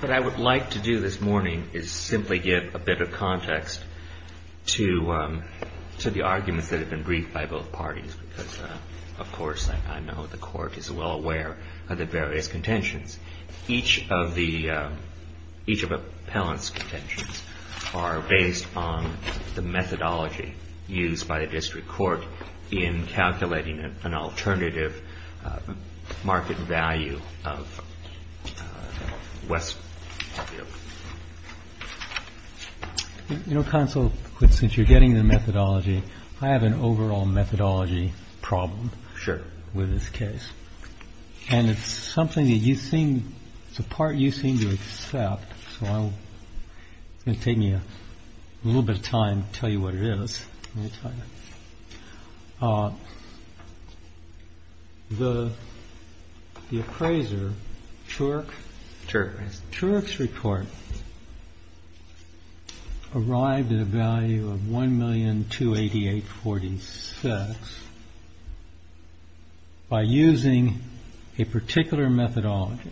What I would like to do this morning is simply give a bit of context to the arguments that have been briefed by both parties, because, of course, I know the Court is well aware of the various contentions. Each of the appellant's contentions are based on the methodology used by the district court in calculating an alternative market value of Westview. I have an overall methodology problem with this case, and it's a part you seem to accept, so it will take me a little bit of time to tell you what it is. The appraiser, Tuerck's report arrived at a value of $1,288,046 by using a particular methodology.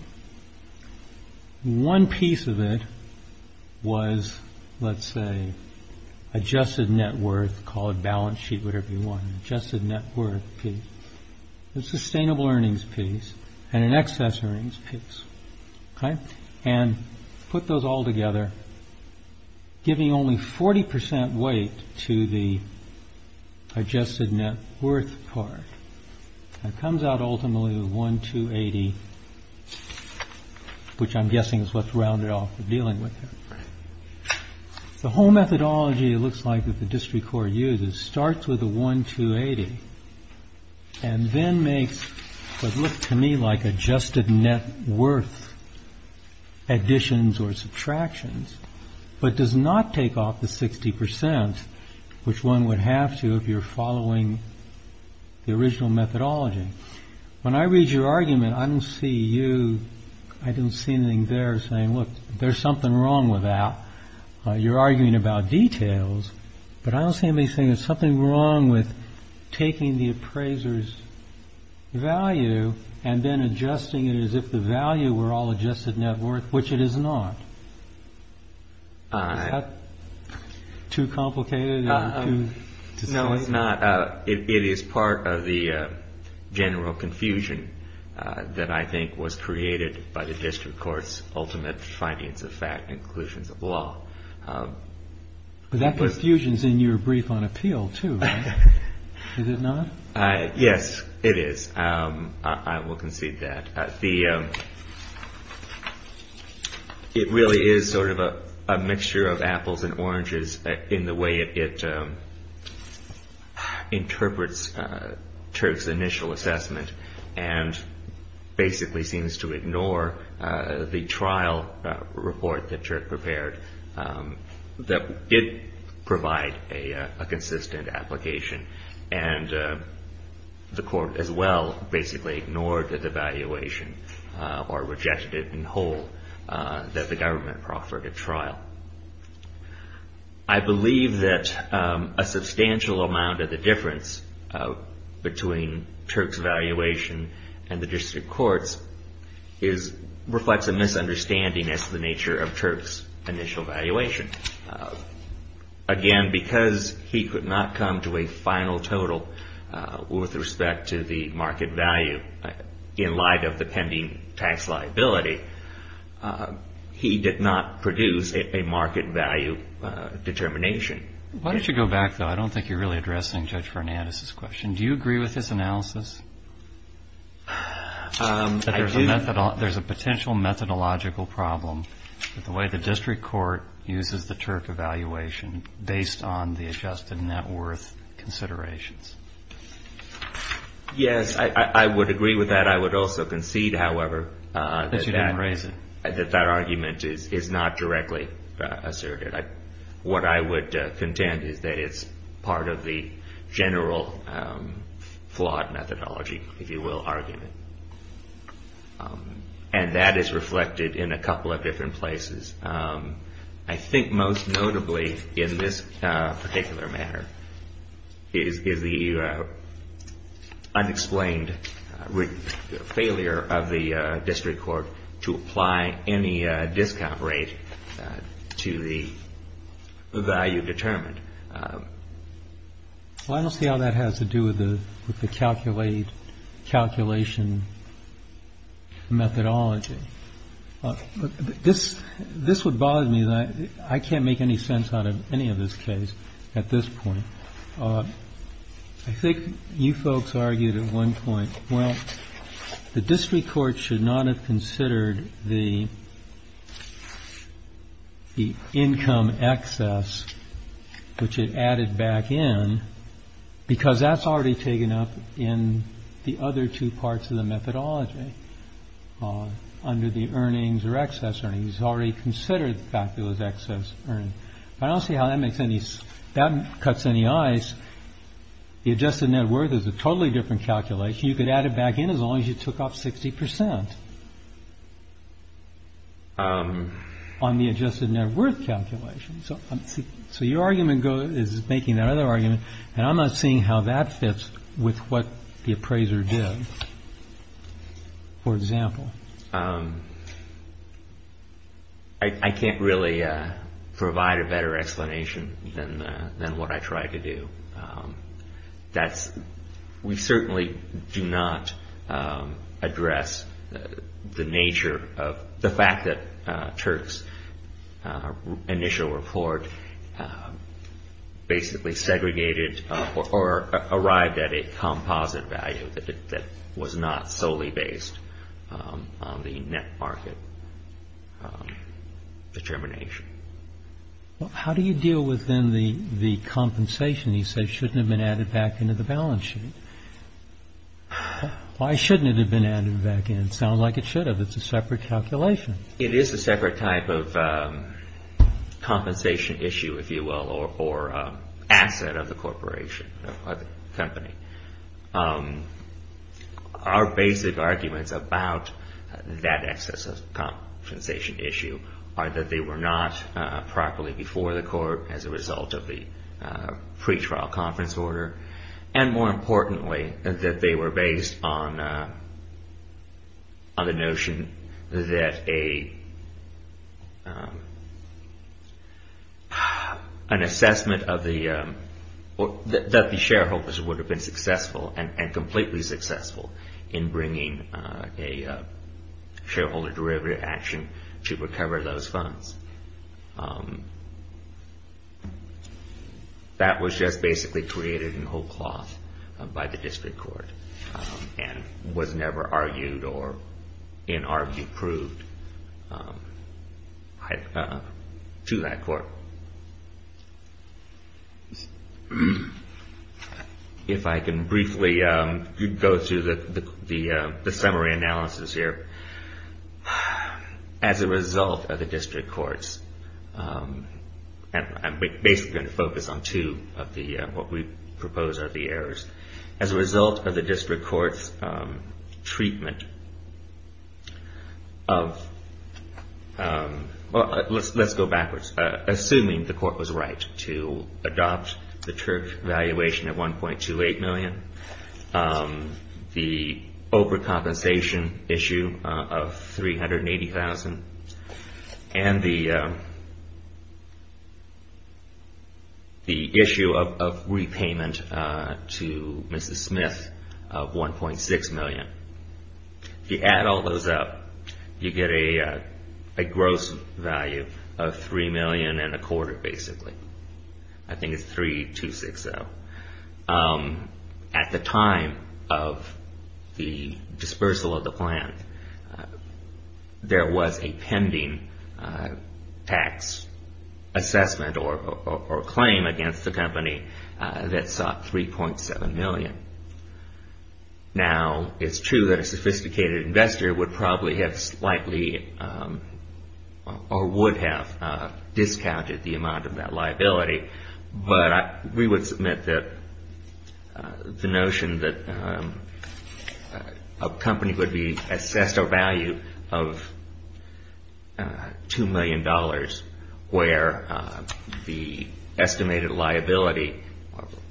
One piece of it was, let's say, adjusted net worth, called balance sheet, whatever you want, an adjusted net worth piece, a sustainable earnings piece, and an excess earnings piece. And put those all together, giving only 40% weight to the adjusted net worth part. It comes out ultimately with $1,280, which I'm guessing is what's rounded off the dealing with it. The whole methodology, it looks like, that the district court uses starts with the $1,280 and then makes what looks to me like adjusted net worth additions or subtractions, but does not take off the 60%, which one would have to if you're following the original methodology. When I read your argument, I don't see you, I don't see anything there saying, look, there's something wrong with that. You're arguing about details, but I don't see anything. There's something wrong with taking the appraiser's value and then adjusting it as if the value were all adjusted net worth, which it is not. Is that too complicated? No, it's not. It is part of the general confusion that I think was created by the district court's ultimate findings of fact and conclusions of law. That confusion is in your brief on appeal, too, right? Is it not? Yes, it is. I will concede that. It really is sort of a mixture of apples and oranges in the way it interprets Turk's initial assessment and basically seems to ignore the trial report that Turk prepared, that did provide a consistent application. The court, as well, basically ignored the valuation or rejected it in whole that the government proffered at trial. I believe that a substantial amount of the difference between Turk's valuation and the district court's reflects a misunderstanding as to the nature of Turk's initial valuation. Again, because he could not come to a final total with respect to the market value in light of the pending tax liability, he did not produce a market value determination. Why don't you go back, though? I don't think you're really addressing Judge Fernandez's question. Do you agree with his analysis? I do. There's a potential methodological problem with the way the district court uses the Turk evaluation based on the adjusted net worth considerations. Yes, I would agree with that. I would also concede, however, that that argument is not directly asserted. What I would contend is that it's part of the general flawed methodology, if you will, argument. And that is reflected in a couple of different places. I think most notably in this particular matter is the unexplained failure of the district court to apply any discount rate to the value determined. I don't see how that has to do with the calculation methodology. But this this would bother me that I can't make any sense out of any of this case at this point. I think you folks argued at one point, well, the district court should not have considered the. The income excess, which it added back in because that's already taken up in the other two parts of the methodology. Under the earnings or excess earnings already considered fabulous excess earnings. I don't see how that makes any sense. That cuts any eyes. The adjusted net worth is a totally different calculation. You could add it back in as long as you took off 60 percent. On the adjusted net worth calculation. So. So your argument is making that other argument. And I'm not seeing how that fits with what the appraiser did. For example. I can't really provide a better explanation than than what I tried to do. That's we certainly do not address the nature of the fact that Turk's initial report basically segregated or arrived at a composite value that was not solely based on the net market determination. How do you deal with the compensation? You say shouldn't have been added back into the balance sheet. Why shouldn't it have been added back in? Sound like it should have. It's a separate calculation. It is a separate type of compensation issue, if you will, or asset of the corporation or company. Our basic arguments about that excess compensation issue are that they were not properly before the court as a result of the pretrial conference order. And more importantly, that they were based on the notion that a an assessment of the that the shareholders would have been successful and completely successful in bringing a shareholder derivative action to recover those funds. That was just basically created in whole cloth by the district court and was never argued or in argue proved to that court. If I can briefly go through the summary analysis here. As a result of the district courts, I'm basically going to focus on two of the what we propose are the errors. As a result of the district courts treatment of, let's go backwards. Assuming the court was right to adopt the Turk valuation at 1.28 million, the overcompensation issue of 380,000, and the issue of repayment to Mrs. Smith of 1.6 million. If you add all those up, you get a gross value of 3 million and a quarter, basically. I think it's 3260. At the time of the dispersal of the plan, there was a pending tax assessment or claim against the company that sought 3.7 million. Now, it's true that a sophisticated investor would probably have slightly or would have discounted the amount of that liability, but we would submit that the notion that a company would be assessed a value of $2 million where the estimated liability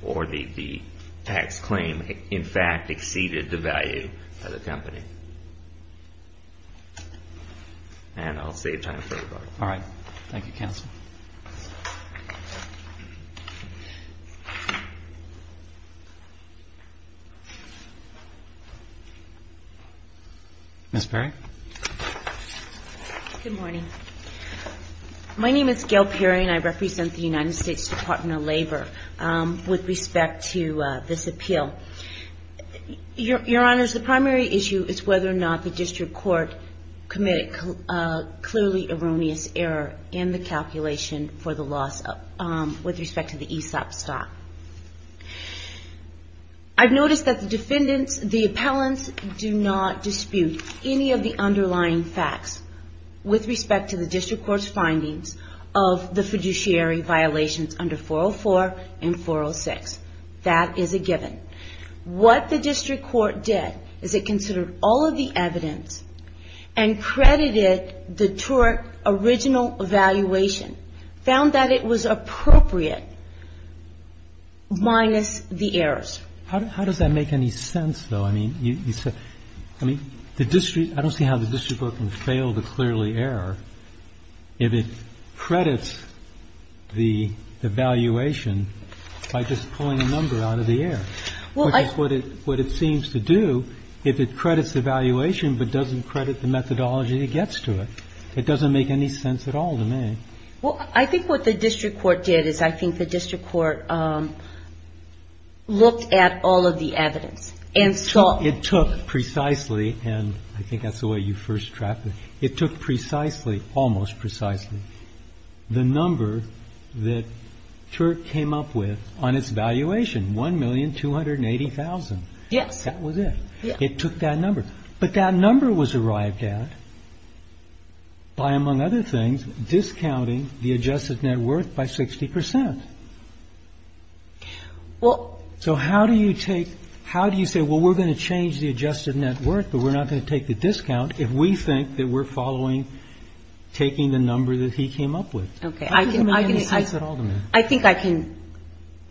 or the tax claim in fact exceeded the value of the company. And I'll save time for the book. All right. Thank you, counsel. Ms. Perry? Good morning. My name is Gail Perry, and I represent the United States Department of Labor. With respect to this appeal, Your Honors, the primary issue is whether or not the district court committed a clearly erroneous error in the calculation for the loss with respect to the ESOP stock. I've noticed that the defendants, the appellants, do not dispute any of the underlying facts with respect to the district court's findings of the fiduciary violations under 404 and 406. That is a given. What the district court did is it considered all of the evidence and credited the TORC original evaluation, found that it was appropriate, minus the errors. How does that make any sense, though? I mean, you said the district ‑‑ I don't see how the district court can fail to clearly error if it credits the evaluation by just pulling a number out of the air, which is what it seems to do if it credits the evaluation but doesn't credit the methodology that gets to it. It doesn't make any sense at all to me. Well, I think what the district court did is I think the district court looked at all of the evidence and saw ‑‑ It took precisely, and I think that's the way you first trapped it. It took precisely, almost precisely, the number that TORC came up with on its evaluation, 1,280,000. Yes. That was it. It took that number. But that number was arrived at by, among other things, discounting the adjusted net worth by 60 percent. So how do you take ‑‑ how do you say, well, we're going to change the adjusted net worth, but we're not going to take the discount if we think that we're following taking the number that he came up with? Okay. I think I can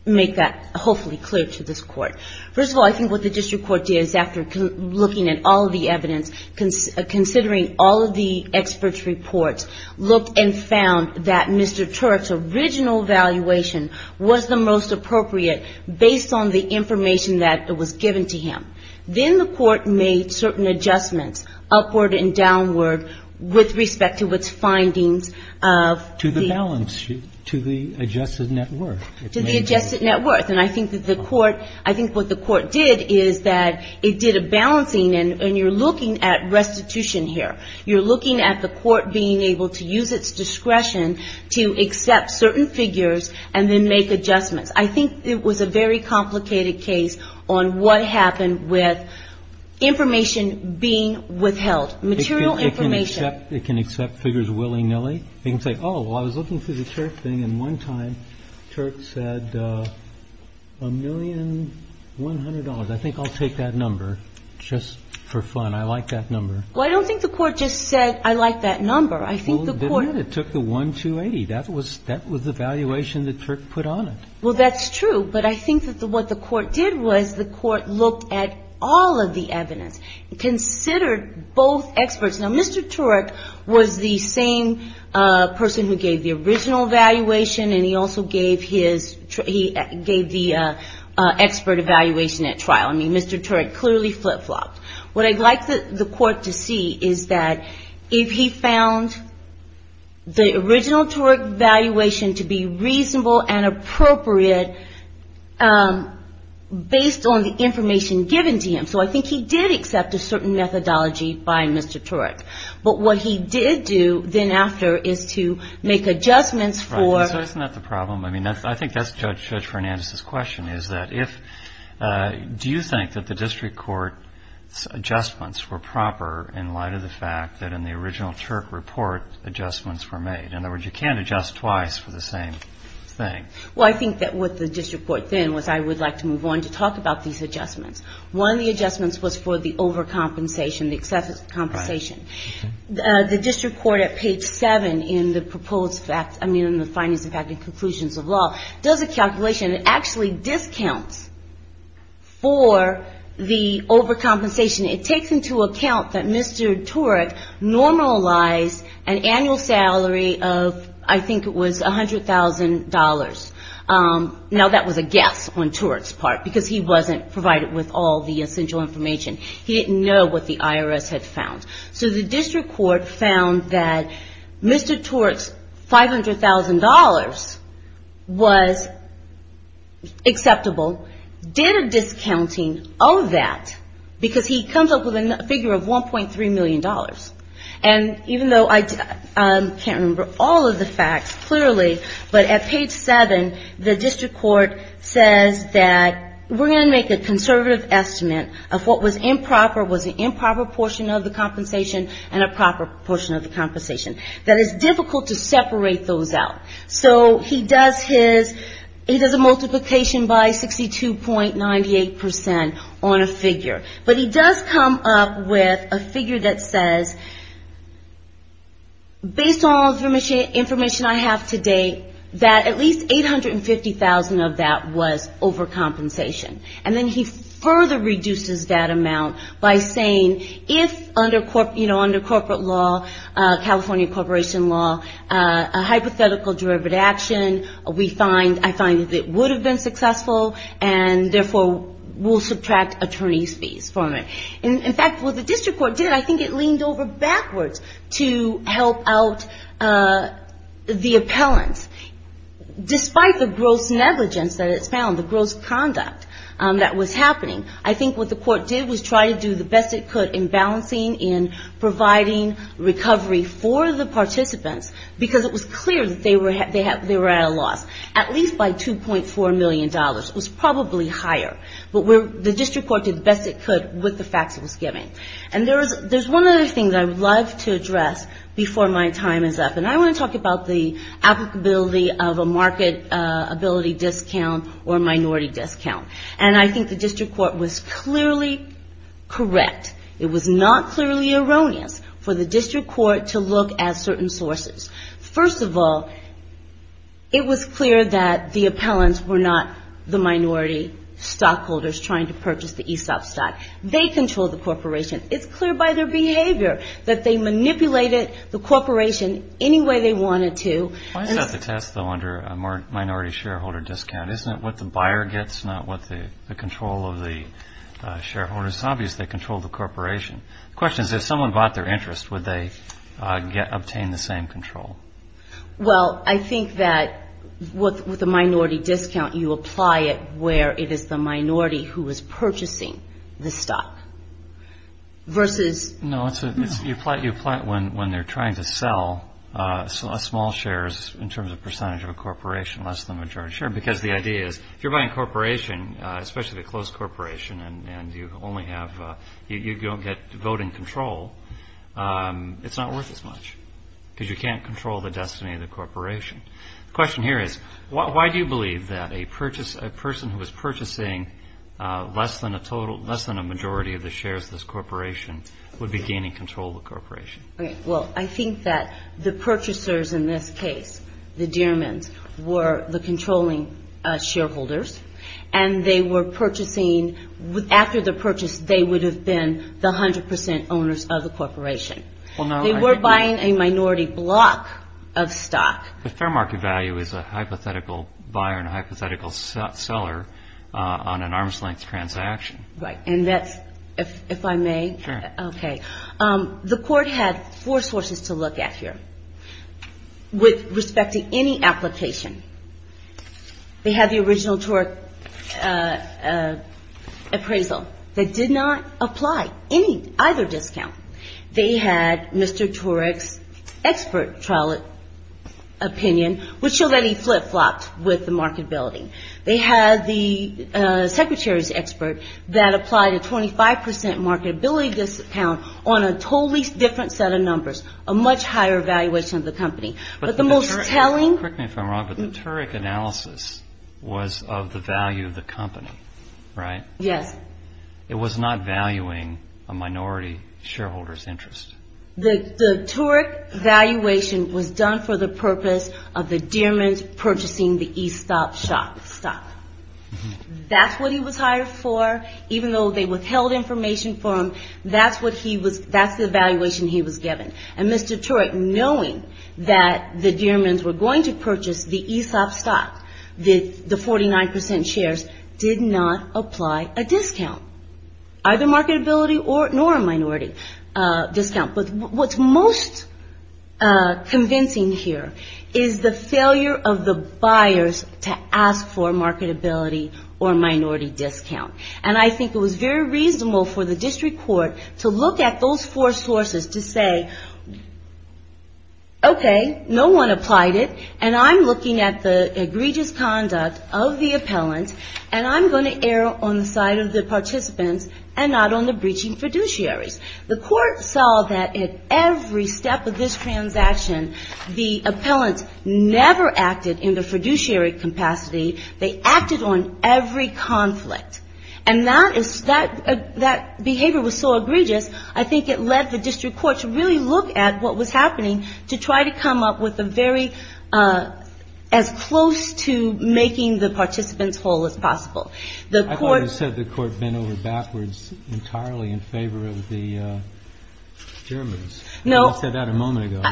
make that hopefully clear to this Court. First of all, I think what the district court did is after looking at all of the evidence, considering all of the experts' reports, looked and found that Mr. TORC's original evaluation was the most appropriate based on the information that was given to him. Then the Court made certain adjustments upward and downward with respect to its findings of the ‑‑ To the balance, to the adjusted net worth. To the adjusted net worth. And I think that the Court, I think what the Court did is that it did a balancing, and you're looking at restitution here. You're looking at the Court being able to use its discretion to accept certain figures and then make adjustments. I think it was a very complicated case on what happened with information being withheld, material information. It can accept figures willy‑nilly. It can say, oh, well, I was looking through the TORC thing, and one time TORC said $1,100,000. I think I'll take that number just for fun. I like that number. Well, I don't think the Court just said, I like that number. I think the Court ‑‑ It did. It took the 1,280. That was the valuation that TORC put on it. Well, that's true. But I think that what the Court did was the Court looked at all of the evidence, considered both experts. Now, Mr. TORC was the same person who gave the original valuation, and he also gave the expert evaluation at trial. I mean, Mr. TORC clearly flip‑flopped. What I'd like the Court to see is that if he found the original TORC valuation to be reasonable and appropriate based on the But what he did do then after is to make adjustments for Isn't that the problem? I mean, I think that's Judge Fernandez's question, is that if ‑‑ Do you think that the District Court's adjustments were proper in light of the fact that in the original TORC report adjustments were made? In other words, you can't adjust twice for the same thing. Well, I think that what the District Court then was I would like to move on to talk about these adjustments. One of the adjustments was for the overcompensation, the excessive compensation. The District Court at page 7 in the proposed fact, I mean, in the findings of fact and conclusions of law, does a calculation. It actually discounts for the overcompensation. It takes into account that Mr. TORC normalized an annual salary of I think it was $100,000. Now that was a guess on TORC's part because he wasn't provided with all the essential information. He didn't know what the IRS had found. So the District Court found that Mr. TORC's $500,000 was acceptable, did a discounting of that because he comes up with a figure of $1.3 million. And even though I can't remember all of the facts clearly, but at page 7 the District Court says that we're going to make a conservative estimate of what was improper, was an improper portion of the compensation and a proper portion of the compensation. That it's difficult to separate those out. So he does his, he does a multiplication by 62.98% on a figure. But he does come up with a figure that says, based on all the information I have to date, that at least $850,000 of that was overcompensation. And then he further reduces that amount by saying, if under corporate law, California corporation law, a hypothetical derivative action, we find, I find that it would have been successful and therefore we'll subtract attorney's fees from it. In fact, what the District Court did, I think it leaned over backwards to help out the appellants. Despite the gross negligence that it's found, the gross conduct that was happening, I think what the court did was try to do the best it could in balancing, in providing recovery for the participants because it was clear that they were at a loss. At least by $2.4 million. It was probably higher, but the District Court did the best it could with the facts it was giving. And there's one other thing that I would love to address before my time is up, and I want to talk about the applicability of a marketability discount or minority discount. And I think the District Court was clearly correct. It was not clearly erroneous for the District Court to look at certain sources. First of all, it was clear that the appellants were not the minority stockholders trying to purchase the ESOP stock. They controlled the corporation. It's clear by their behavior that they manipulated the corporation any way they wanted to. Why is that the test, though, under a minority shareholder discount? Isn't it what the buyer gets, not what the control of the shareholders? It's obvious they controlled the corporation. The question is, if someone bought their interest, would they obtain the same control? Well, I think that with a minority discount, you apply it where it is the minority who is purchasing the stock. No, you apply it when they're trying to sell small shares in terms of percentage of a corporation, less than the majority share. Because the idea is, if you're buying a corporation, especially a closed corporation, and you don't get voting control, it's not worth as much. Because you can't control the destiny of the corporation. The question here is, why do you believe that a person who is purchasing less than a majority of the shares of the corporation would be gaining control of the corporation? Well, I think that the purchasers in this case, the Diermans, were the controlling shareholders. And they were purchasing, after the purchase, they would have been the 100 percent owners of the corporation. They were buying a minority block of stock. The fair market value is a hypothetical buyer and a hypothetical seller on an arm's length transaction. Right. And that's, if I may, okay. The court had four sources to look at here, with respect to any application. They had the original TORC appraisal that did not apply any, either discount. They had Mr. TORC's expert trial opinion, which showed that he flip-flopped with the marketability. They had the secretary's expert that applied a 25 percent marketability discount on a totally different set of numbers, a much higher valuation of the company. But the most telling... Correct me if I'm wrong, but the TORC analysis was of the value of the company, right? Yes. It was not valuing a minority shareholder's interest. The TORC valuation was done for the purpose of the Diermans purchasing the ESOP stock. That's what he was hired for, even though they withheld information from him. That's the valuation he was given. And Mr. TORC, knowing that the Diermans were going to purchase the ESOP stock, the 49 percent shares, did not apply a discount. Either marketability or minority discount. But what's most convincing here is the failure of the buyers to ask for marketability or minority discount. And I think it was very reasonable for the district court to look at those four sources to say, okay, no one applied it, and I'm looking at the egregious conduct of the appellant, and I'm going to err on the side of the participants and not on the breaching fiduciaries. The court saw that at every step of this transaction, the appellant never acted in the fiduciary capacity. They acted on every conflict. And that behavior was so egregious, I think it led the district court to really look at what was happening to try to come up with a very, as close to making the participants whole as possible. I thought you said the court bent over backwards entirely in favor of the Diermans. I said that a moment ago.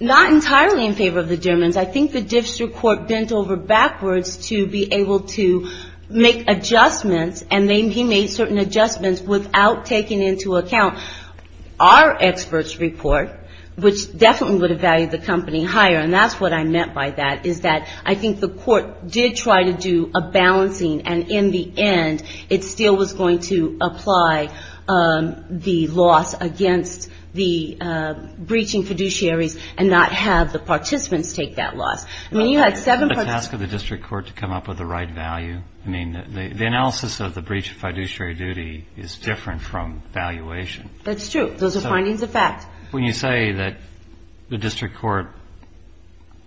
Not entirely in favor of the Diermans. I think the district court bent over backwards to be able to make adjustments, and he made certain adjustments without taking into account our experts report, which definitely would have valued the company higher, and that's what I meant by that, is that I think the court did try to do a balancing, and in the end, it still was going to apply the loss against the breaching fiduciaries and not have the participants take that loss. I mean, you had seven participants. Did you ask the district court to come up with the right value? I mean, the analysis of the breach of fiduciary duty is different from valuation. That's true. Those are findings of fact. When you say that the district court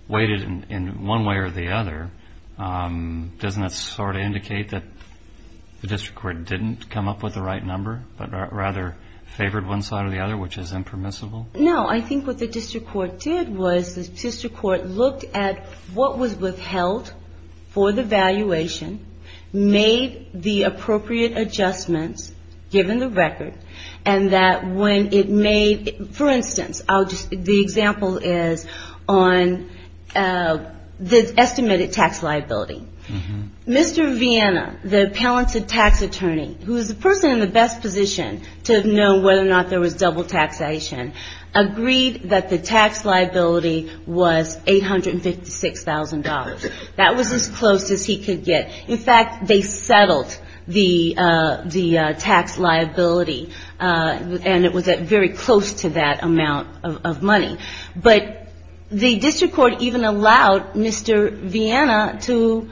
waited in one way or the other, doesn't that sort of indicate that the district court didn't come up with the right number, but rather favored one side or the other, which is impermissible? No. I think what the district court did was the district court looked at what was withheld for the valuation, made the appropriate adjustments given the record, and that when it made, for instance, the example is on the estimated tax liability. Mr. Vienna, the talented tax attorney, who is the person in the best position to know whether or not there was double taxation, agreed that the tax liability was $856,000. That was as close as he could get. In fact, they settled the tax liability, and it was very close to that amount of money. But the district court even allowed Mr. Vienna to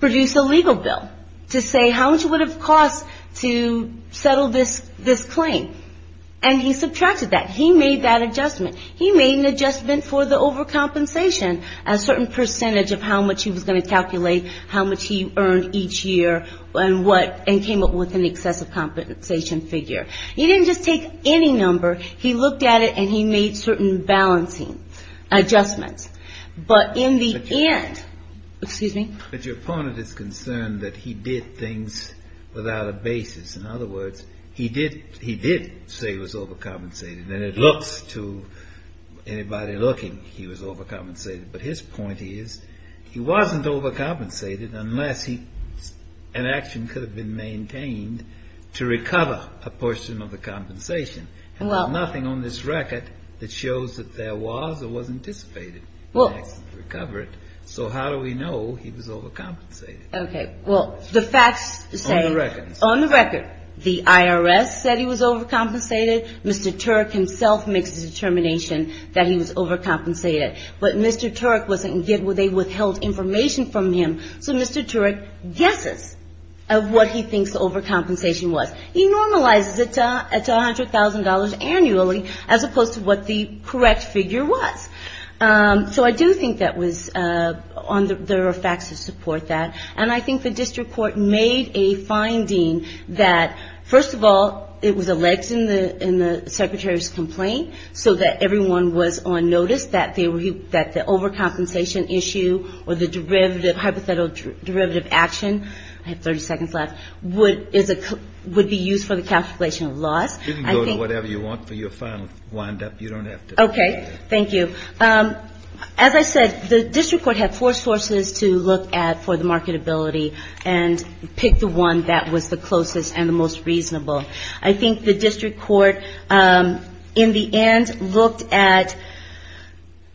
produce a legal bill to say how much it would have cost to settle this claim. And he subtracted that. He made that adjustment. He made an adjustment for the overcompensation, a certain percentage of how much he was going to calculate, how much he earned each year, and came up with an excessive compensation figure. He didn't just take any number. He looked at it, and he made certain balancing adjustments. But in the end, excuse me? But your opponent is concerned that he did things without a basis. In other words, he did say it was overcompensated. And it looks to anybody looking, he was overcompensated. But his point is, he wasn't overcompensated unless an action could have been maintained to recover a portion of that amount. And there's nothing on this record that shows that there was or was anticipated an action to recover it. So how do we know he was overcompensated? On the record, the IRS said he was overcompensated. Mr. Turek himself makes the determination that he was overcompensated. But Mr. Turek, they withheld information from him, so Mr. Turek guesses of what he thinks the overcompensation was. He normalizes it to $100,000 annually, as opposed to what the correct figure was. So I do think there are facts that support that. And I think the district court made a finding that, first of all, it was alleged in the Secretary's complaint, so that everyone was on notice that the overcompensation issue or the derivative, hypothetical derivative action, I have 30 seconds left, would be used for the calculation of loss. You can go to whatever you want for your final windup. You don't have to. Okay. Thank you. As I said, the district court had four sources to look at for the marketability and picked the one that was the closest and the most reasonable. I think the district court, in the end, looked at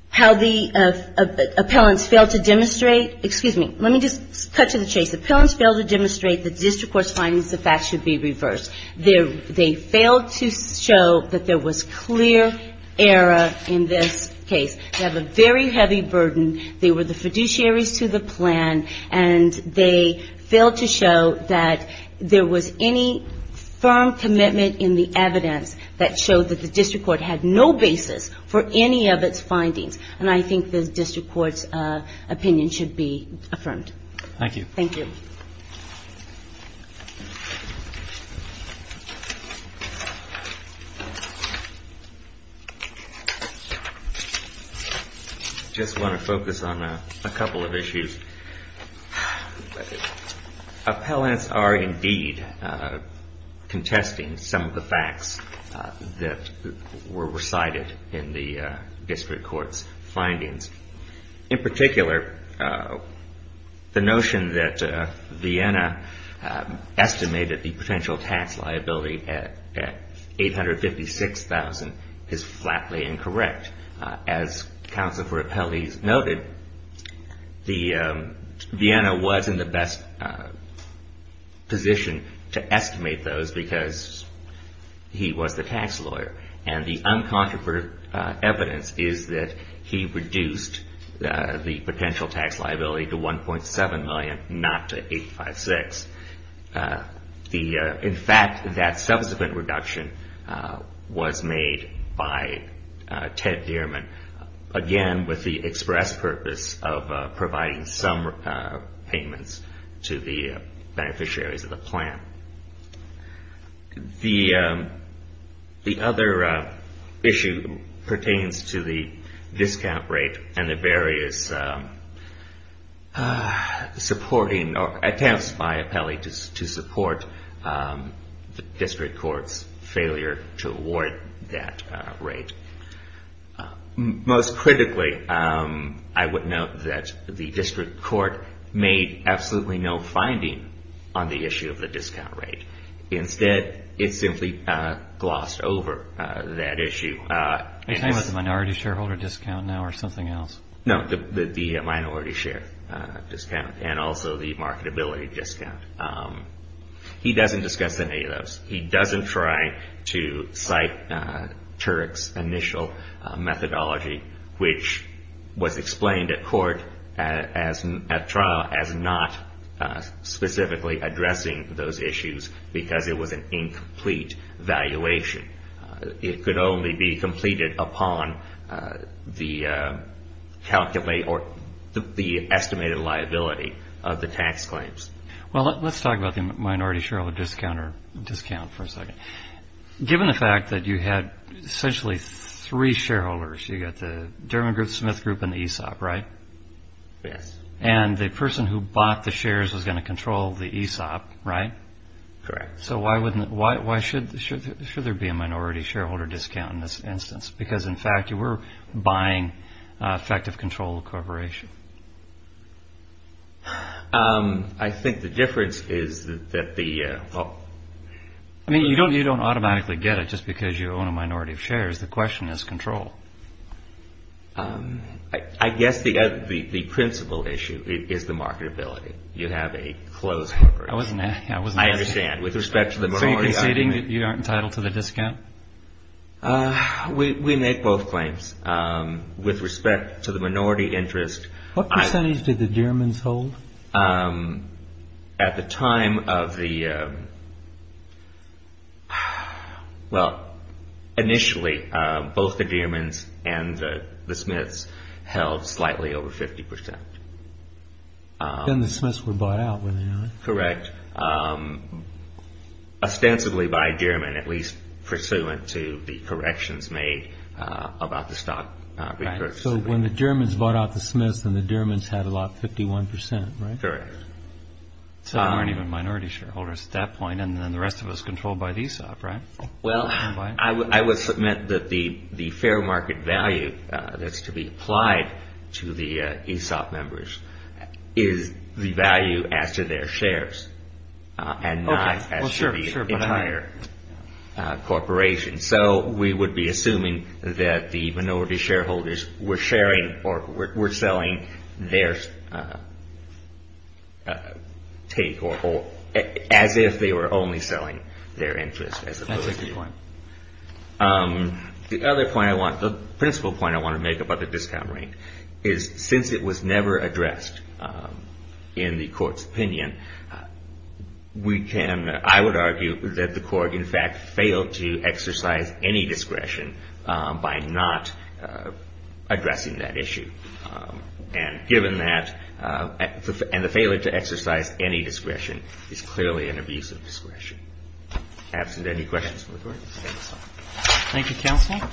how the appellants failed to demonstrate excuse me, let me just cut to the chase, the appellants failed to demonstrate the district court's findings, the facts should be reversed. They failed to show that there was clear error in this case. They have a very heavy burden. They were the fiduciaries to the plan, and they failed to show that there was any firm commitment in the evidence that showed that the district court had no basis for any of its findings, and I think the district court's opinion should be affirmed. I just want to focus on a couple of issues. Appellants are indeed contesting some of the facts that were recited in the district court's findings. In particular, the notion that Vienna estimated the potential tax liability at 856,000 is flatly incorrect. As counsel for appellees noted, Vienna was in the best position to estimate those because he was the tax lawyer, and the uncontroverted evidence is that he reduced the potential tax liability to 1.7 million, not to 856. In fact, that subsequent reduction was made by Ted Gehrman, again with the express purpose of providing some payments to the beneficiaries of the plan. The other issue pertains to the discount rate and the various supporting attempts by appellants to reduce the potential tax liability. The district court's failure to award that rate. Most critically, I would note that the district court made absolutely no finding on the issue of the discount rate. Instead, it simply glossed over that issue. The minority share discount and also the marketability discount. He doesn't discuss any of those. He doesn't try to cite Turek's initial methodology, which was explained at trial as not specifically addressing those issues because it was an incomplete valuation. It could only be completed upon the estimated liability of the tax claims. Let's talk about the minority shareholder discount for a second. Given the fact that you had essentially three shareholders, you've got the Durham Group, Smith Group, and the ESOP, right? Yes. And the person who bought the shares was going to control the ESOP, right? Correct. So why should there be a minority shareholder discount in this instance? I think the difference is that the... You don't automatically get it just because you own a minority of shares. The question is control. I guess the principle issue is the marketability. You have a closed market. So you're conceding that you aren't entitled to the discount? We make both claims with respect to the minority interest. What percentage did the Dearmans hold? At the time of the... Well, initially, both the Dearmans and the Smiths held slightly over 50%. Then the Smiths were bought out, were they not? Correct. Ostensibly by Dearman, at least pursuant to the corrections made about the stock repurchase. So when the Dearmans bought out the Smiths, then the Dearmans had about 51%, right? Correct. So there weren't even minority shareholders at that point, and then the rest of it was controlled by the ESOP, right? Well, I would submit that the fair market value that's to be applied to the ESOP members is the value as to their shares, and not as to the entire corporation. So we would be assuming that the minority shareholders were sharing or were selling their take, as if they were only selling their interest as opposed to... That's a good point. The principle point I want to make about the discount rate is since it was never addressed in the court's opinion, we can, I would argue, that the court in fact failed to exercise any discretion by not addressing that issue. And given that, and the failure to exercise any discretion is clearly an abuse of discretion. Absent any questions from the Court, I'll close the hearing.